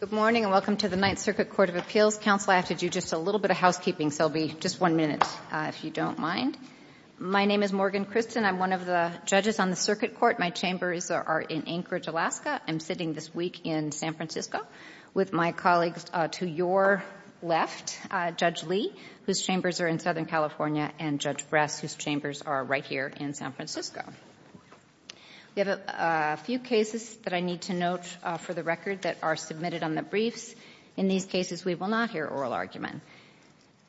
Good morning and welcome to the Ninth Circuit Court of Appeals. Counsel, I have to do just a little bit of housekeeping, so it will be just one minute if you don't mind. My name is Morgan Christen. I'm one of the judges on the circuit court. My chambers are in Anchorage, Alaska. I'm sitting this week in San Francisco with my colleagues to your left, Judge Lee, whose chambers are in Southern California, and Judge Bress, whose chambers are right here in San Francisco. We have a few cases that I need to note for the record that are submitted on the briefs. In these cases, we will not hear oral argument.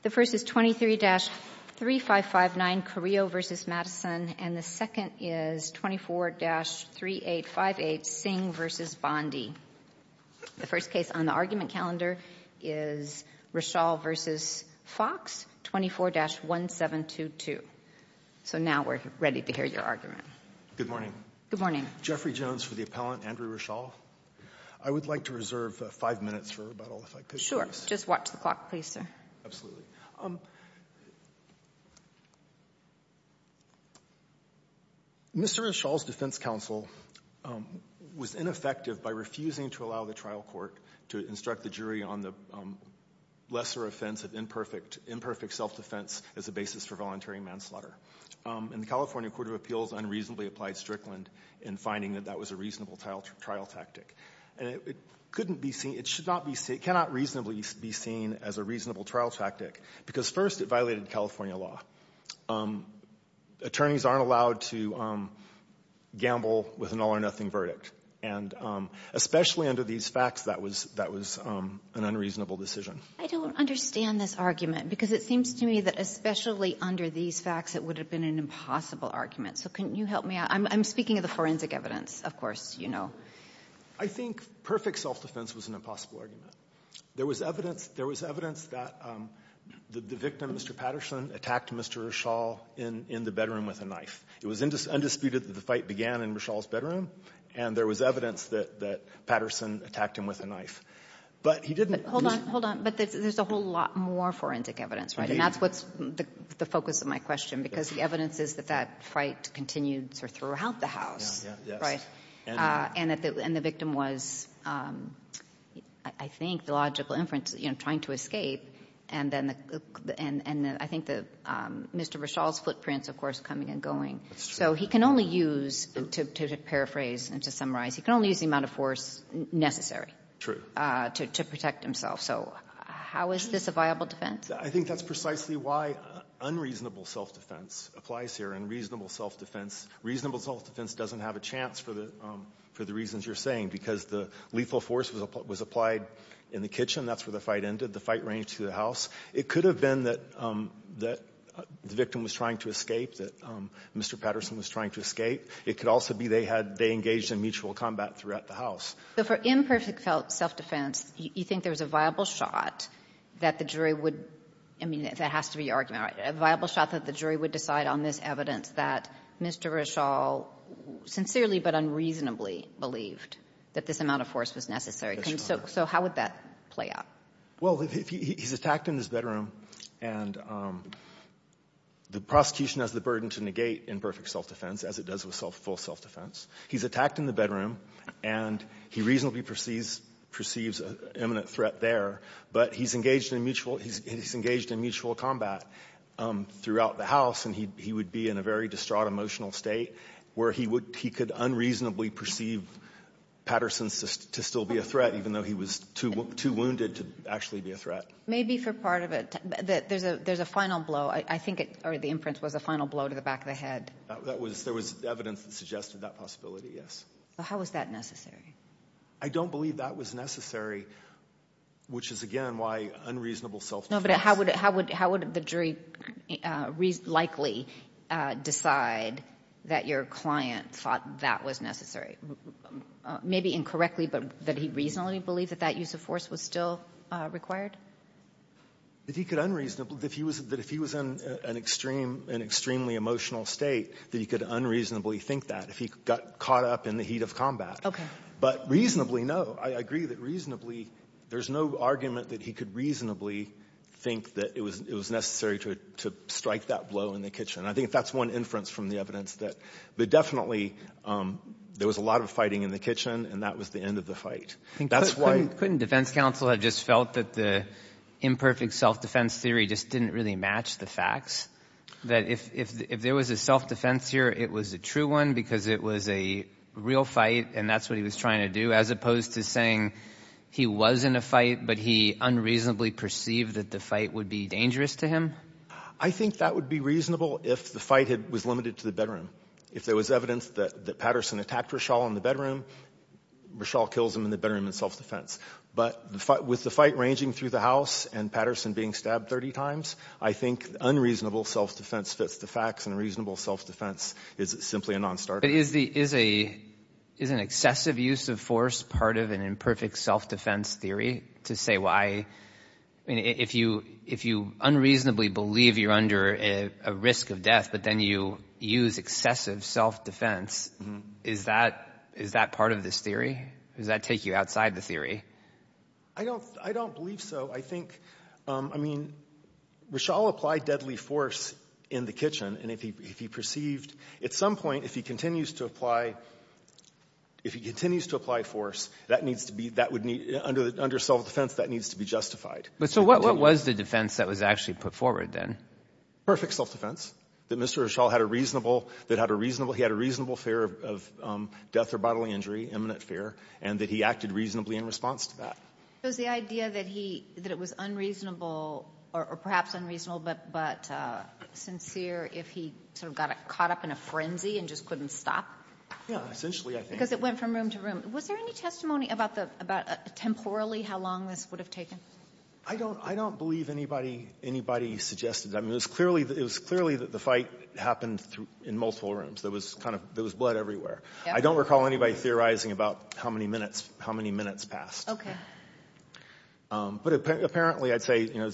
The first is 23-3559, Carrillo v. Madison, and the second is 24-3858, Singh v. Bondi. The first case on the argument calendar is Rishal v. Fox, 24-1722. So now we're ready to hear your argument. Good morning. Good morning. Jeffrey Jones for the appellant, Andrew Rishal. I would like to reserve five minutes for rebuttal, if I could, please. Sure. Just watch the clock, please, sir. Absolutely. Mr. Rishal's defense counsel was ineffective by refusing to allow the trial court to instruct the jury on the lesser offense of imperfect self-defense as a basis for voluntary manslaughter. And the California Court of Appeals unreasonably applied Strickland in finding that that was a reasonable trial tactic. And it couldn't be seen, it should not be seen, it cannot reasonably be seen as a reasonable trial tactic because, first, it violated California law. Attorneys aren't allowed to gamble with an all-or-nothing verdict. And especially under these facts, that was an unreasonable decision. I don't understand this argument because it seems to me that especially under these facts, it would have been an impossible argument. So can you help me out? I'm speaking of the forensic evidence, of course, you know. I think perfect self-defense was an impossible argument. There was evidence that the victim, Mr. Patterson, attacked Mr. Rishal in the bedroom with a knife. It was undisputed that the fight began in Rishal's bedroom, and there was evidence that Patterson attacked him with a knife. But he didn't ---- Hold on. Hold on. But there's a whole lot more forensic evidence, right? Indeed. And that's what's the focus of my question because the evidence is that that fight continued sort of throughout the House. Yeah, yeah, yes. Right? And that the victim was, I think, the logical inference, you know, trying to escape. And then the ---- and I think that Mr. Rishal's footprint is, of course, coming and going. That's true. So he can only use, to paraphrase and to summarize, he can only use the amount of force necessary. True. To protect himself. So how is this a viable defense? I think that's precisely why unreasonable self-defense applies here. And reasonable self-defense doesn't have a chance for the reasons you're saying. Because the lethal force was applied in the kitchen. That's where the fight ended. The fight ranged through the House. It could have been that the victim was trying to escape, that Mr. Patterson was trying to escape. It could also be they had they engaged in mutual combat throughout the House. So for imperfect self-defense, you think there's a viable shot that the jury would ---- I mean, that has to be your argument, right, a viable shot that the jury would decide on this evidence that Mr. Rishal sincerely but unreasonably believed that this amount of force was necessary. So how would that play out? Well, he's attacked in his bedroom, and the prosecution has the burden to negate imperfect self-defense as it does with full self-defense. He's attacked in the bedroom, and he reasonably perceives an imminent threat there. But he's engaged in mutual combat throughout the House. And he would be in a very distraught emotional state where he could unreasonably perceive Patterson to still be a threat, even though he was too wounded to actually be a threat. Maybe for part of it, there's a final blow. I think the inference was a final blow to the back of the head. There was evidence that suggested that possibility, yes. So how was that necessary? I don't believe that was necessary, which is, again, why unreasonable self-defense. No, but how would the jury likely decide that your client thought that was necessary? Maybe incorrectly, but that he reasonably believed that that use of force was still required? That he could unreasonably – that if he was in an extreme – an extremely emotional state, that he could unreasonably think that if he got caught up in the heat of combat. Okay. But reasonably, no. I agree that reasonably – there's no argument that he could reasonably think that it was necessary to strike that blow in the kitchen. I think that's one inference from the evidence that – but definitely, there was a lot of fighting in the kitchen, and that was the end of the fight. That's why – Couldn't defense counsel have just felt that the imperfect self-defense theory just didn't really match the facts? That if there was a self-defense here, it was a true one because it was a real fight, and that's what he was trying to do, as opposed to saying he was in a fight, but he unreasonably perceived that the fight would be dangerous to him? I think that would be reasonable if the fight was limited to the bedroom. If there was evidence that Patterson attacked Rishal in the bedroom, Rishal kills him in the bedroom in self-defense. But with the fight ranging through the house and Patterson being stabbed 30 times, I think unreasonable self-defense fits the facts, and reasonable self-defense is simply a non-starter. But is an excessive use of force part of an imperfect self-defense theory? To say why – I mean, if you unreasonably believe you're under a risk of death, but then you use excessive self-defense, is that part of this theory? Does that take you outside the theory? I don't believe so. I think – I mean, Rishal applied deadly force in the kitchen, and if he perceived – at some point, if he continues to apply – if he continues to apply force, that needs to be – that would need – under self-defense, that needs to be justified. But so what was the defense that was actually put forward, then? Perfect self-defense, that Mr. Rishal had a reasonable – that had a reasonable – he had a reasonable fear of death or bodily injury, imminent fear, and that he acted reasonably in response to that. Was the idea that he – that it was unreasonable, or perhaps unreasonable, but sincere if he sort of got caught up in a frenzy and just couldn't stop? Yeah, essentially, I think. Because it went from room to room. Was there any testimony about the – about temporally how long this would have taken? I don't – I don't believe anybody – anybody suggested that. I mean, it was clearly – it was clearly that the fight happened in multiple rooms. There was kind of – there was blood everywhere. I don't recall anybody theorizing about how many minutes – how many minutes passed. Okay. But apparently, I'd say, you know,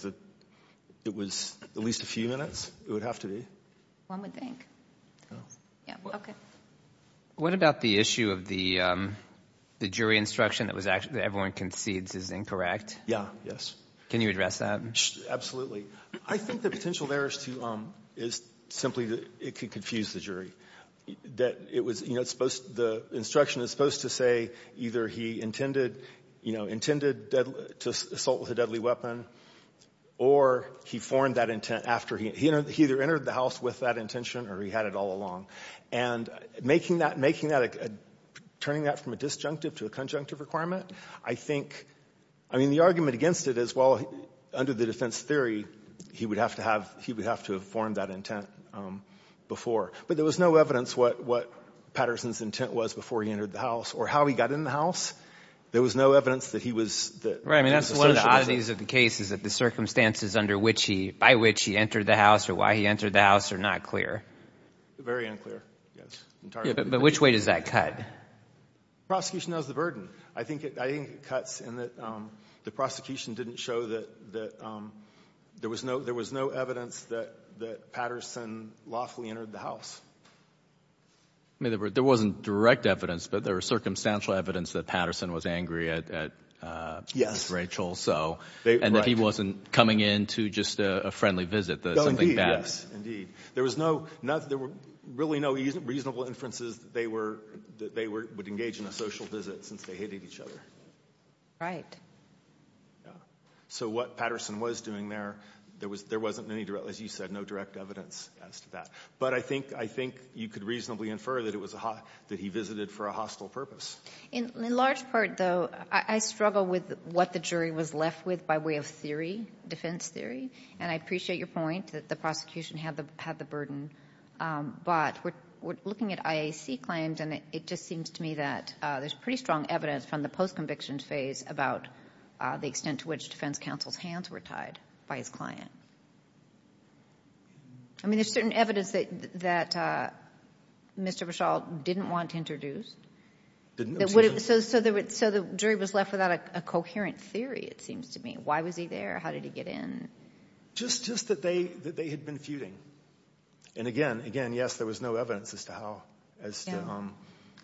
it was at least a few minutes. It would have to be. One would think. Yeah. Okay. What about the issue of the jury instruction that was – that everyone concedes is incorrect? Yeah. Yes. Can you address that? Absolutely. I think the potential there is to – is simply that it could confuse the jury. That it was – you know, it's supposed – the instruction is supposed to say either he intended – you know, intended to assault with a deadly weapon or he formed that intent after he – he either entered the house with that intention or he had it all along. And making that – making that – turning that from a disjunctive to a conjunctive requirement, I think – I mean, the argument against it is, well, under the defense theory, he would have to have – he would have to have formed that intent before. But there was no evidence what Patterson's intent was before he entered the house or how he got in the house. There was no evidence that he was – that there was a social distance. Right. I mean, that's one of the oddities of the case is that the circumstances under which he – by which he entered the house or why he entered the house are not clear. Very unclear, yes. Entirely unclear. Yeah. But which way does that cut? Prosecution knows the burden. I think it – I think it cuts in that the prosecution didn't show that – that there was no – there was no evidence that – that Patterson lawfully entered the house. I mean, there wasn't direct evidence, but there was circumstantial evidence that Patterson was angry at – at Rachel, so – Right. And that he wasn't coming in to just a friendly visit, something bad. No, indeed, yes, indeed. There was no – there were really no reasonable inferences that they were – that they would engage in a social visit since they hated each other. Right. Yeah. So what Patterson was doing there, there was – there wasn't any direct – as you said, no direct evidence as to that. But I think – I think you could reasonably infer that it was a – that he visited for a hostile purpose. In large part, though, I struggle with what the jury was left with by way of theory, defense theory. And I appreciate your point that the prosecution had the – had the burden. But we're looking at IAC claims, and it just seems to me that there's pretty strong evidence from the post-conviction phase about the extent to which defense counsel's hands were tied by his client. I mean, there's certain evidence that Mr. Breschall didn't want introduced. Didn't want introduced. So the jury was left without a coherent theory, it seems to me. Why was he there? How did he get in? Just that they had been feuding. And again, yes, there was no evidence as to how – as to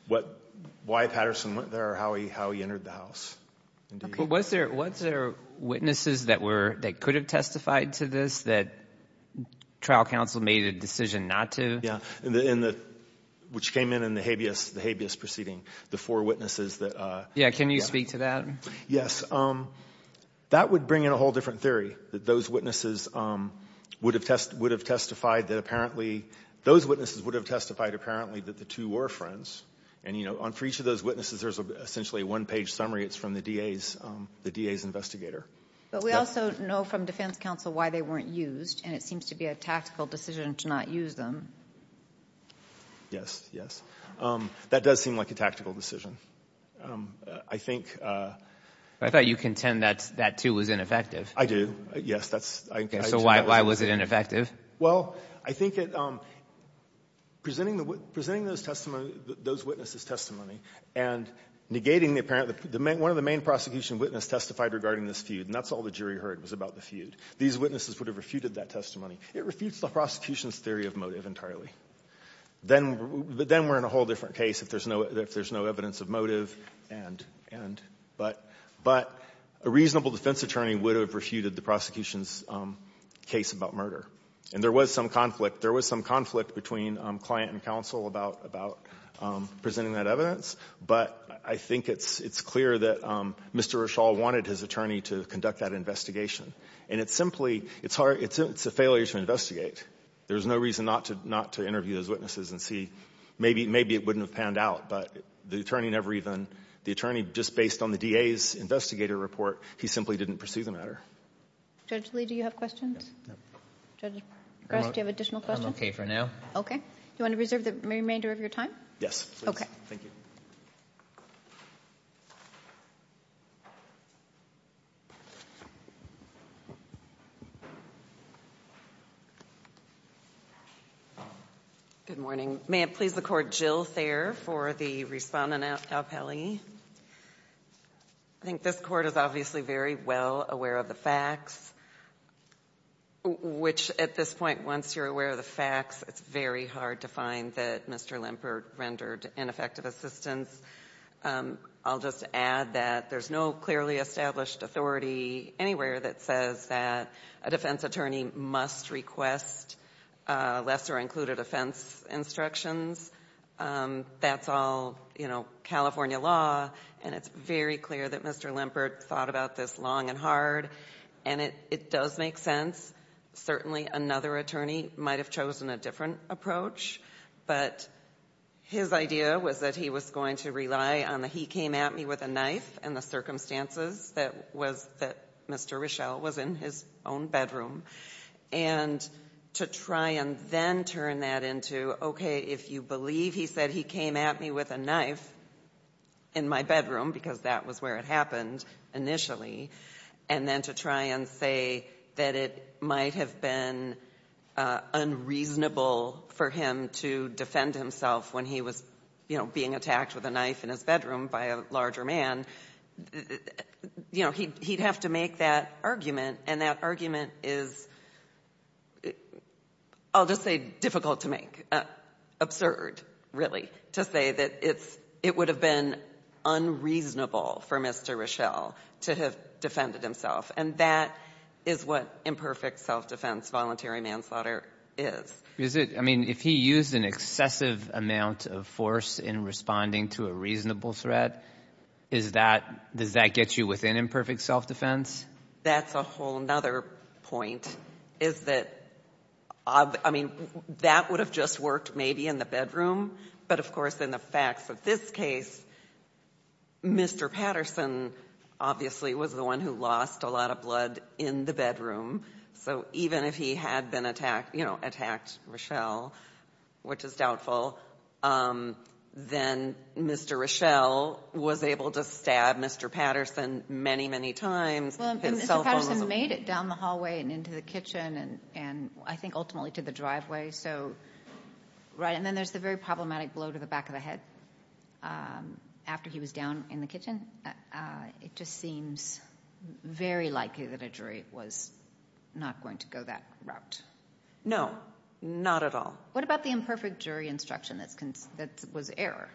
what – why Patterson went there or how he entered the house. Was there – was there witnesses that were – that could have testified to this that trial counsel made a decision not to? Yeah. In the – which came in in the habeas – the habeas proceeding, the four witnesses that – Yeah. Can you speak to that? Yes. That would bring in a whole different theory, that those witnesses would have testified that apparently – those witnesses would have testified apparently that the two were friends. And, you know, for each of those witnesses, there's essentially a one-page summary. It's from the DA's – the DA's investigator. But we also know from defense counsel why they weren't used, and it seems to be a tactical decision to not use them. Yes. Yes. That does seem like a tactical decision. I think – I thought you contend that – that, too, was ineffective. I do. Yes. That's – I – So why – why was it ineffective? Well, I think it – presenting the – presenting those testimony – those witnesses' testimony and negating the apparent – one of the main prosecution witness testified regarding this feud, and that's all the jury heard was about the feud. These witnesses would have refuted that testimony. It refutes the prosecution's theory of motive entirely. Then – but then we're in a whole different case if there's no – if there's no evidence of motive and – and – but – but a reasonable defense attorney would have refuted the prosecution's case about murder. And there was some conflict. There was some conflict between client and counsel about – about presenting that evidence. But I think it's – it's clear that Mr. Rishal wanted his attorney to conduct that investigation. And it's simply – it's hard – it's a failure to investigate. There's no reason not to – not to interview those witnesses and see – maybe – maybe it wouldn't have panned out, but the attorney never even – the attorney, just based on the DA's investigator report, he simply didn't pursue the matter. Judge Lee, do you have questions? No. Judge Gress, do you have additional questions? I'm okay for now. Okay. Do you want to reserve the remainder of your time? Yes, please. Thank you. Good morning. May it please the Court, Jill Thayer for the respondent, Al Peli. I think this Court is obviously very well aware of the facts. Which, at this point, once you're aware of the facts, it's very hard to find that Mr. Lempert rendered ineffective assistance. I'll just add that there's no clearly established authority anywhere that says that a defense attorney must request lesser-included offense instructions. That's all, you know, California law. And it's very clear that Mr. Lempert thought about this long and hard. And it does make sense. Certainly, another attorney might have chosen a different approach. But his idea was that he was going to rely on the he came at me with a knife and the circumstances that was, that Mr. Richelle was in his own bedroom. And to try and then turn that into, okay, if you believe he said he came at me with a knife in my bedroom, because that was where it happened initially. And then to try and say that it might have been unreasonable for him to defend himself when he was being attacked with a knife in his bedroom by a larger man. You know, he'd have to make that argument. And that argument is, I'll just say, difficult to make. Absurd, really, to say that it would have been unreasonable for Mr. Richelle to have defended himself. And that is what imperfect self-defense voluntary manslaughter is. Is it, I mean, if he used an excessive amount of force in responding to a reasonable threat, is that, does that get you within imperfect self-defense? That's a whole nother point. Is that, I mean, that would have just worked maybe in the bedroom. But of course, in the facts of this case, Mr. Patterson obviously was the one who lost a lot of blood in the bedroom. So even if he had been attacked, you know, attacked Richelle, which is doubtful. Then Mr. Richelle was able to stab Mr. Patterson many, many times. His cell phone was- Mr. Patterson made it down the hallway and into the kitchen and I think ultimately to the driveway. So, right, and then there's the very problematic blow to the back of the head. After he was down in the kitchen, it just seems very likely that a jury was not going to go that route. No, not at all. What about the imperfect jury instruction that was error?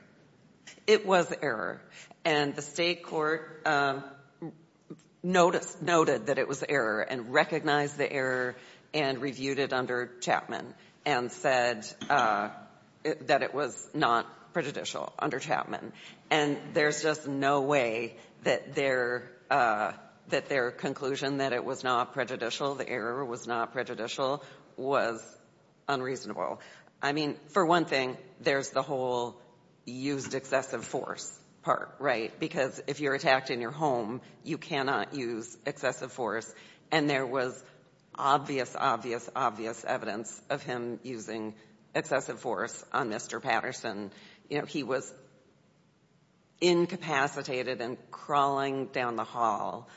It was error. And the state court noticed, noted that it was error and recognized the error and reviewed it under Chapman and said that it was not prejudicial under Chapman. And there's just no way that their conclusion that it was not prejudicial, the error was not prejudicial, was unreasonable. I mean, for one thing, there's the whole used excessive force part, right? Because if you're attacked in your home, you cannot use excessive force. And there was obvious, obvious, obvious evidence of him using excessive force on Mr. Patterson. He was incapacitated and crawling down the hall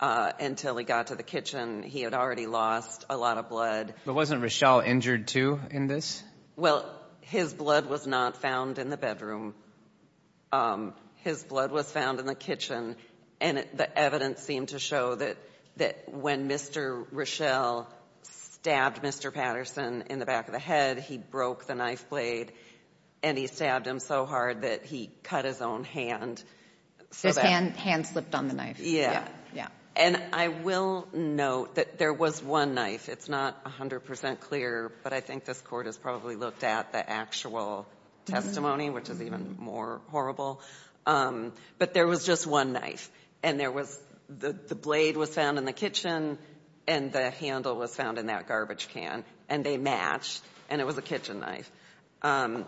until he got to the kitchen. He had already lost a lot of blood. But wasn't Rochelle injured too in this? Well, his blood was not found in the bedroom. His blood was found in the kitchen. And the evidence seemed to show that when Mr. Rochelle stabbed Mr. Patterson in the back of the head, he broke the knife blade and he stabbed him so hard that he cut his own hand. So that his hand slipped on the knife. Yeah. Yeah. And I will note that there was one knife. It's not 100 percent clear, but I think this Court has probably looked at the actual testimony, which is even more horrible. But there was just one knife. And there was, the blade was found in the kitchen, and the handle was found in that garbage can. And they matched, and it was a kitchen knife. And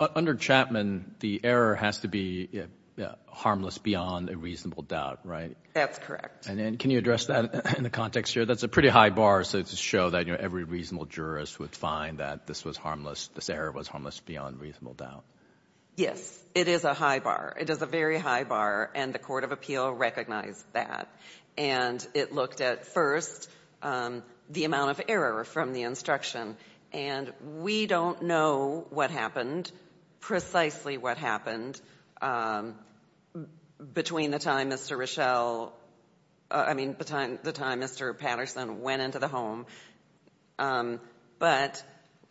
under Chapman, the error has to be harmless beyond a reasonable doubt, right? That's correct. And then, can you address that in the context here? That's a pretty high bar to show that every reasonable jurist would find that this was harmless, this error was harmless beyond reasonable doubt. Yes, it is a high bar. It is a very high bar, and the Court of Appeal recognized that. And it looked at, first, the amount of error from the instruction. And we don't know what happened, precisely what happened, between the time Mr. Richelle, I mean, the time Mr. Patterson went into the home. But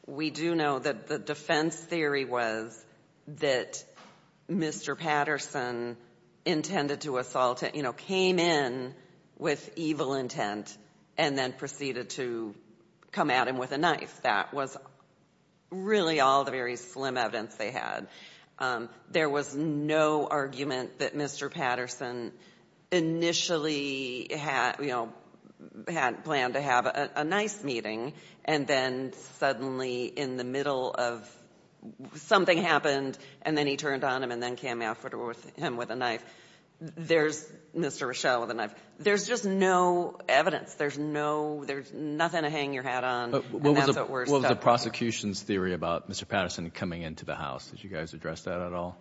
we do know that the defense theory was that Mr. Patterson intended to assault, came in with evil intent, and then proceeded to come at him with a knife. That was really all the very slim evidence they had. There was no argument that Mr. Patterson initially had planned to have a nice meeting. And then, suddenly, in the middle of something happened, and then he turned on him, and then came after him with a knife, there's Mr. Richelle with a knife. There's just no evidence. There's no, there's nothing to hang your hat on, and that's what we're stuck with. What about the prosecution's theory about Mr. Patterson coming into the house? Did you guys address that at all?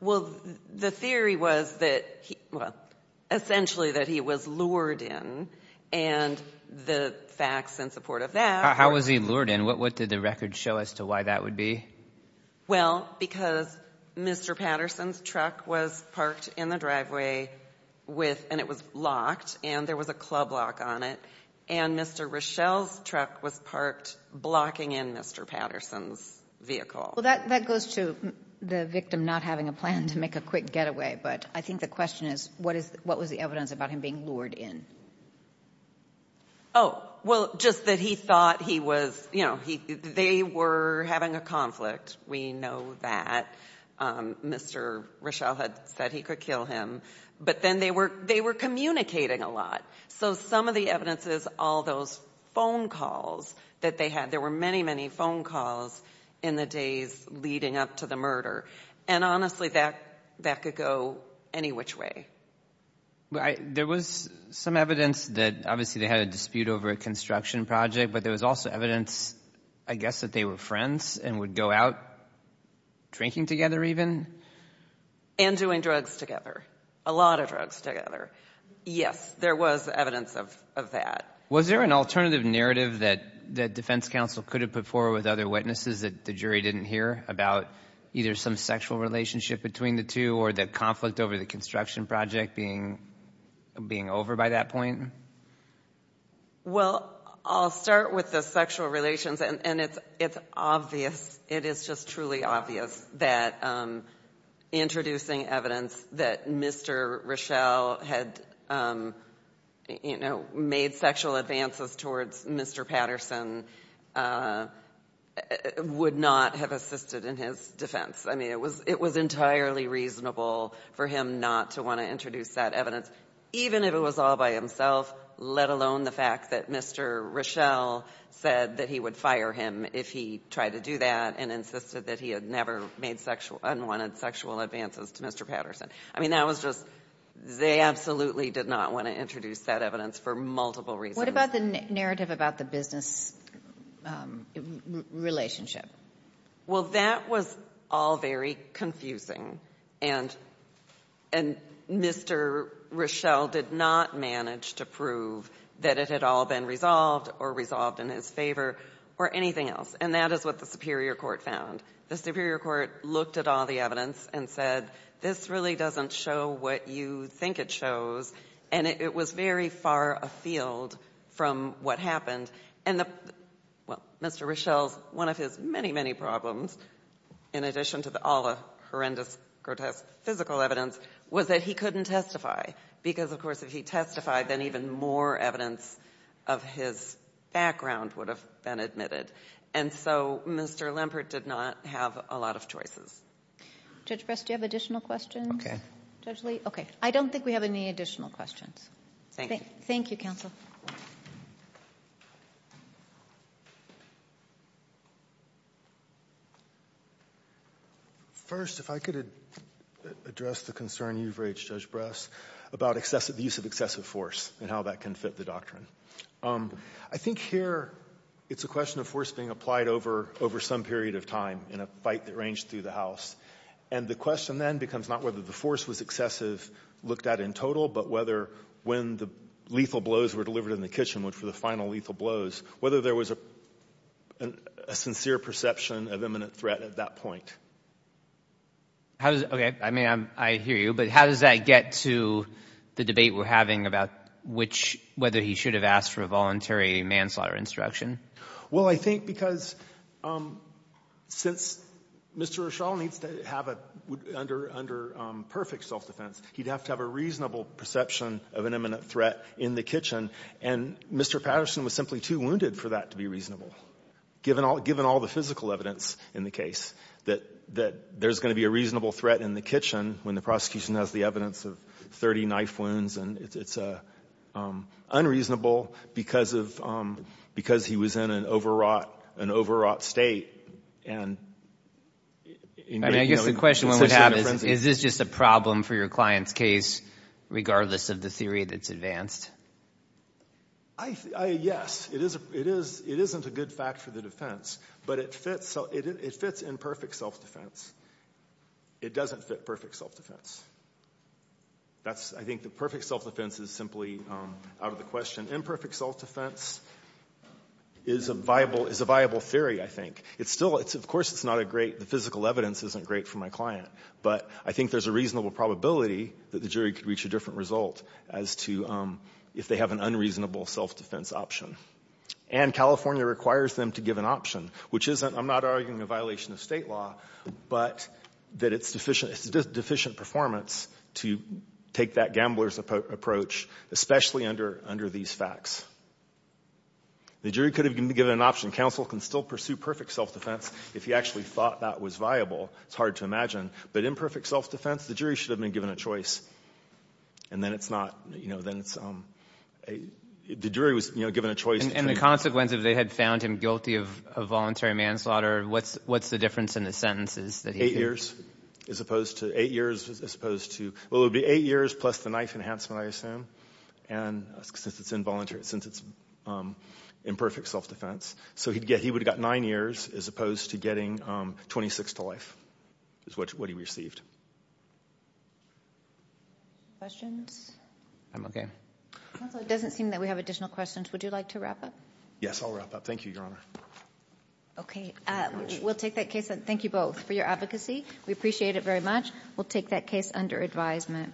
Well, the theory was that he, well, essentially that he was lured in. And the facts in support of that- How was he lured in? What did the record show as to why that would be? Well, because Mr. Patterson's truck was parked in the driveway with, and it was locked, and there was a club lock on it. And Mr. Richelle's truck was parked blocking in Mr. Patterson's vehicle. Well, that goes to the victim not having a plan to make a quick getaway. But I think the question is, what was the evidence about him being lured in? Well, just that he thought he was, they were having a conflict. We know that Mr. Richelle had said he could kill him. But then they were communicating a lot. So some of the evidence is all those phone calls that they had. There were many, many phone calls in the days leading up to the murder. And honestly, that could go any which way. There was some evidence that, obviously, they had a dispute over a construction project, but there was also evidence, I guess, that they were friends and would go out drinking together even. And doing drugs together, a lot of drugs together. Yes, there was evidence of that. Was there an alternative narrative that the defense counsel could have put forward with other witnesses that the jury didn't hear about either some sexual relationship between the two or the conflict over the construction project being over by that point? Well, I'll start with the sexual relations, and it's obvious, it is just truly obvious that introducing evidence that Mr. Richelle had made sexual advances towards Mr. Patterson would not have assisted in his defense. I mean, it was entirely reasonable for him not to want to introduce that evidence, even if it was all by himself, let alone the fact that Mr. Richelle said that he would fire him if he tried to do that and insisted that he had never made unwanted sexual advances to Mr. Patterson. I mean, that was just, they absolutely did not want to introduce that evidence for multiple reasons. What about the narrative about the business relationship? Well, that was all very confusing, and Mr. Richelle did not manage to prove that it had all been resolved or resolved in his favor or anything else, and that is what the Superior Court found. The Superior Court looked at all the evidence and said, this really doesn't show what you think it shows, and it was very far afield from what happened. And, well, Mr. Richelle's, one of his many, many problems, in addition to all the horrendous, grotesque physical evidence, was that he couldn't testify, because, of course, if he testified, then even more evidence of his background would have been admitted, and so Mr. Lempert did not have a lot of choices. Judge Brest, do you have additional questions? Okay. Judge Lee? Okay. I don't think we have any additional questions. Thank you. Thank you, counsel. First, if I could address the concern you've raised, Judge Brest, about the use of excessive force and how that can fit the doctrine. I think here it's a question of force being applied over some period of time in a fight that ranged through the House, and the question then becomes not whether the force was excessive, looked at in total, but whether when the lethal blows were delivered in the kitchen, which were the final lethal blows, whether there was a sincere perception of imminent threat at that point. How does, okay, I mean, I hear you, but how does that get to the debate we're having about which, whether he should have asked for a voluntary manslaughter instruction? Well, I think because since Mr. O'Shall needs to have a under perfect self-defense, he'd have to have a reasonable perception of an imminent threat in the kitchen, and Mr. Patterson was simply too wounded for that to be reasonable, given all the physical evidence in the case, that there's going to be a reasonable threat in the kitchen when the prosecution has the evidence of 30 knife wounds, and it's unreasonable because of, because he was in an overwrought, an overwrought state, and, you know. And I guess the question one would have is, is this just a problem for your client's case, regardless of the theory that's advanced? I, yes, it is, it isn't a good fact for the defense, but it fits, it fits in perfect self-defense. It doesn't fit perfect self-defense. That's, I think the perfect self-defense is simply out of the question. Imperfect self-defense is a viable, is a viable theory, I think. It's still, it's, of course, it's not a great, the physical evidence isn't great for my client, but I think there's a reasonable probability that the jury could reach a different result as to if they have an unreasonable self-defense option. And California requires them to give an option, which isn't, I'm not arguing a violation of state law, but that it's deficient, it's a deficient performance to take that gambler's approach, especially under, under these facts. The jury could have given an option. Counsel can still pursue perfect self-defense if he actually thought that was viable. It's hard to imagine, but imperfect self-defense, the jury should have been given a choice. And then it's not, you know, then it's, the jury was, you know, given a choice. And the consequence if they had found him guilty of voluntary manslaughter, what's, what's the difference in the sentences that he's given? Eight years, as opposed to, eight years as opposed to, well, it would be eight years plus the knife enhancement, I assume, and since it's involuntary, since it's imperfect self-defense. So he'd get, he would have got nine years as opposed to getting 26 to life, is what he received. Questions? I'm okay. Counsel, it doesn't seem that we have additional questions. Would you like to wrap up? Yes, I'll wrap up. Thank you, Your Honor. Okay. We'll take that case. Thank you both for your advocacy. We appreciate it very much. We'll take that case under advisement.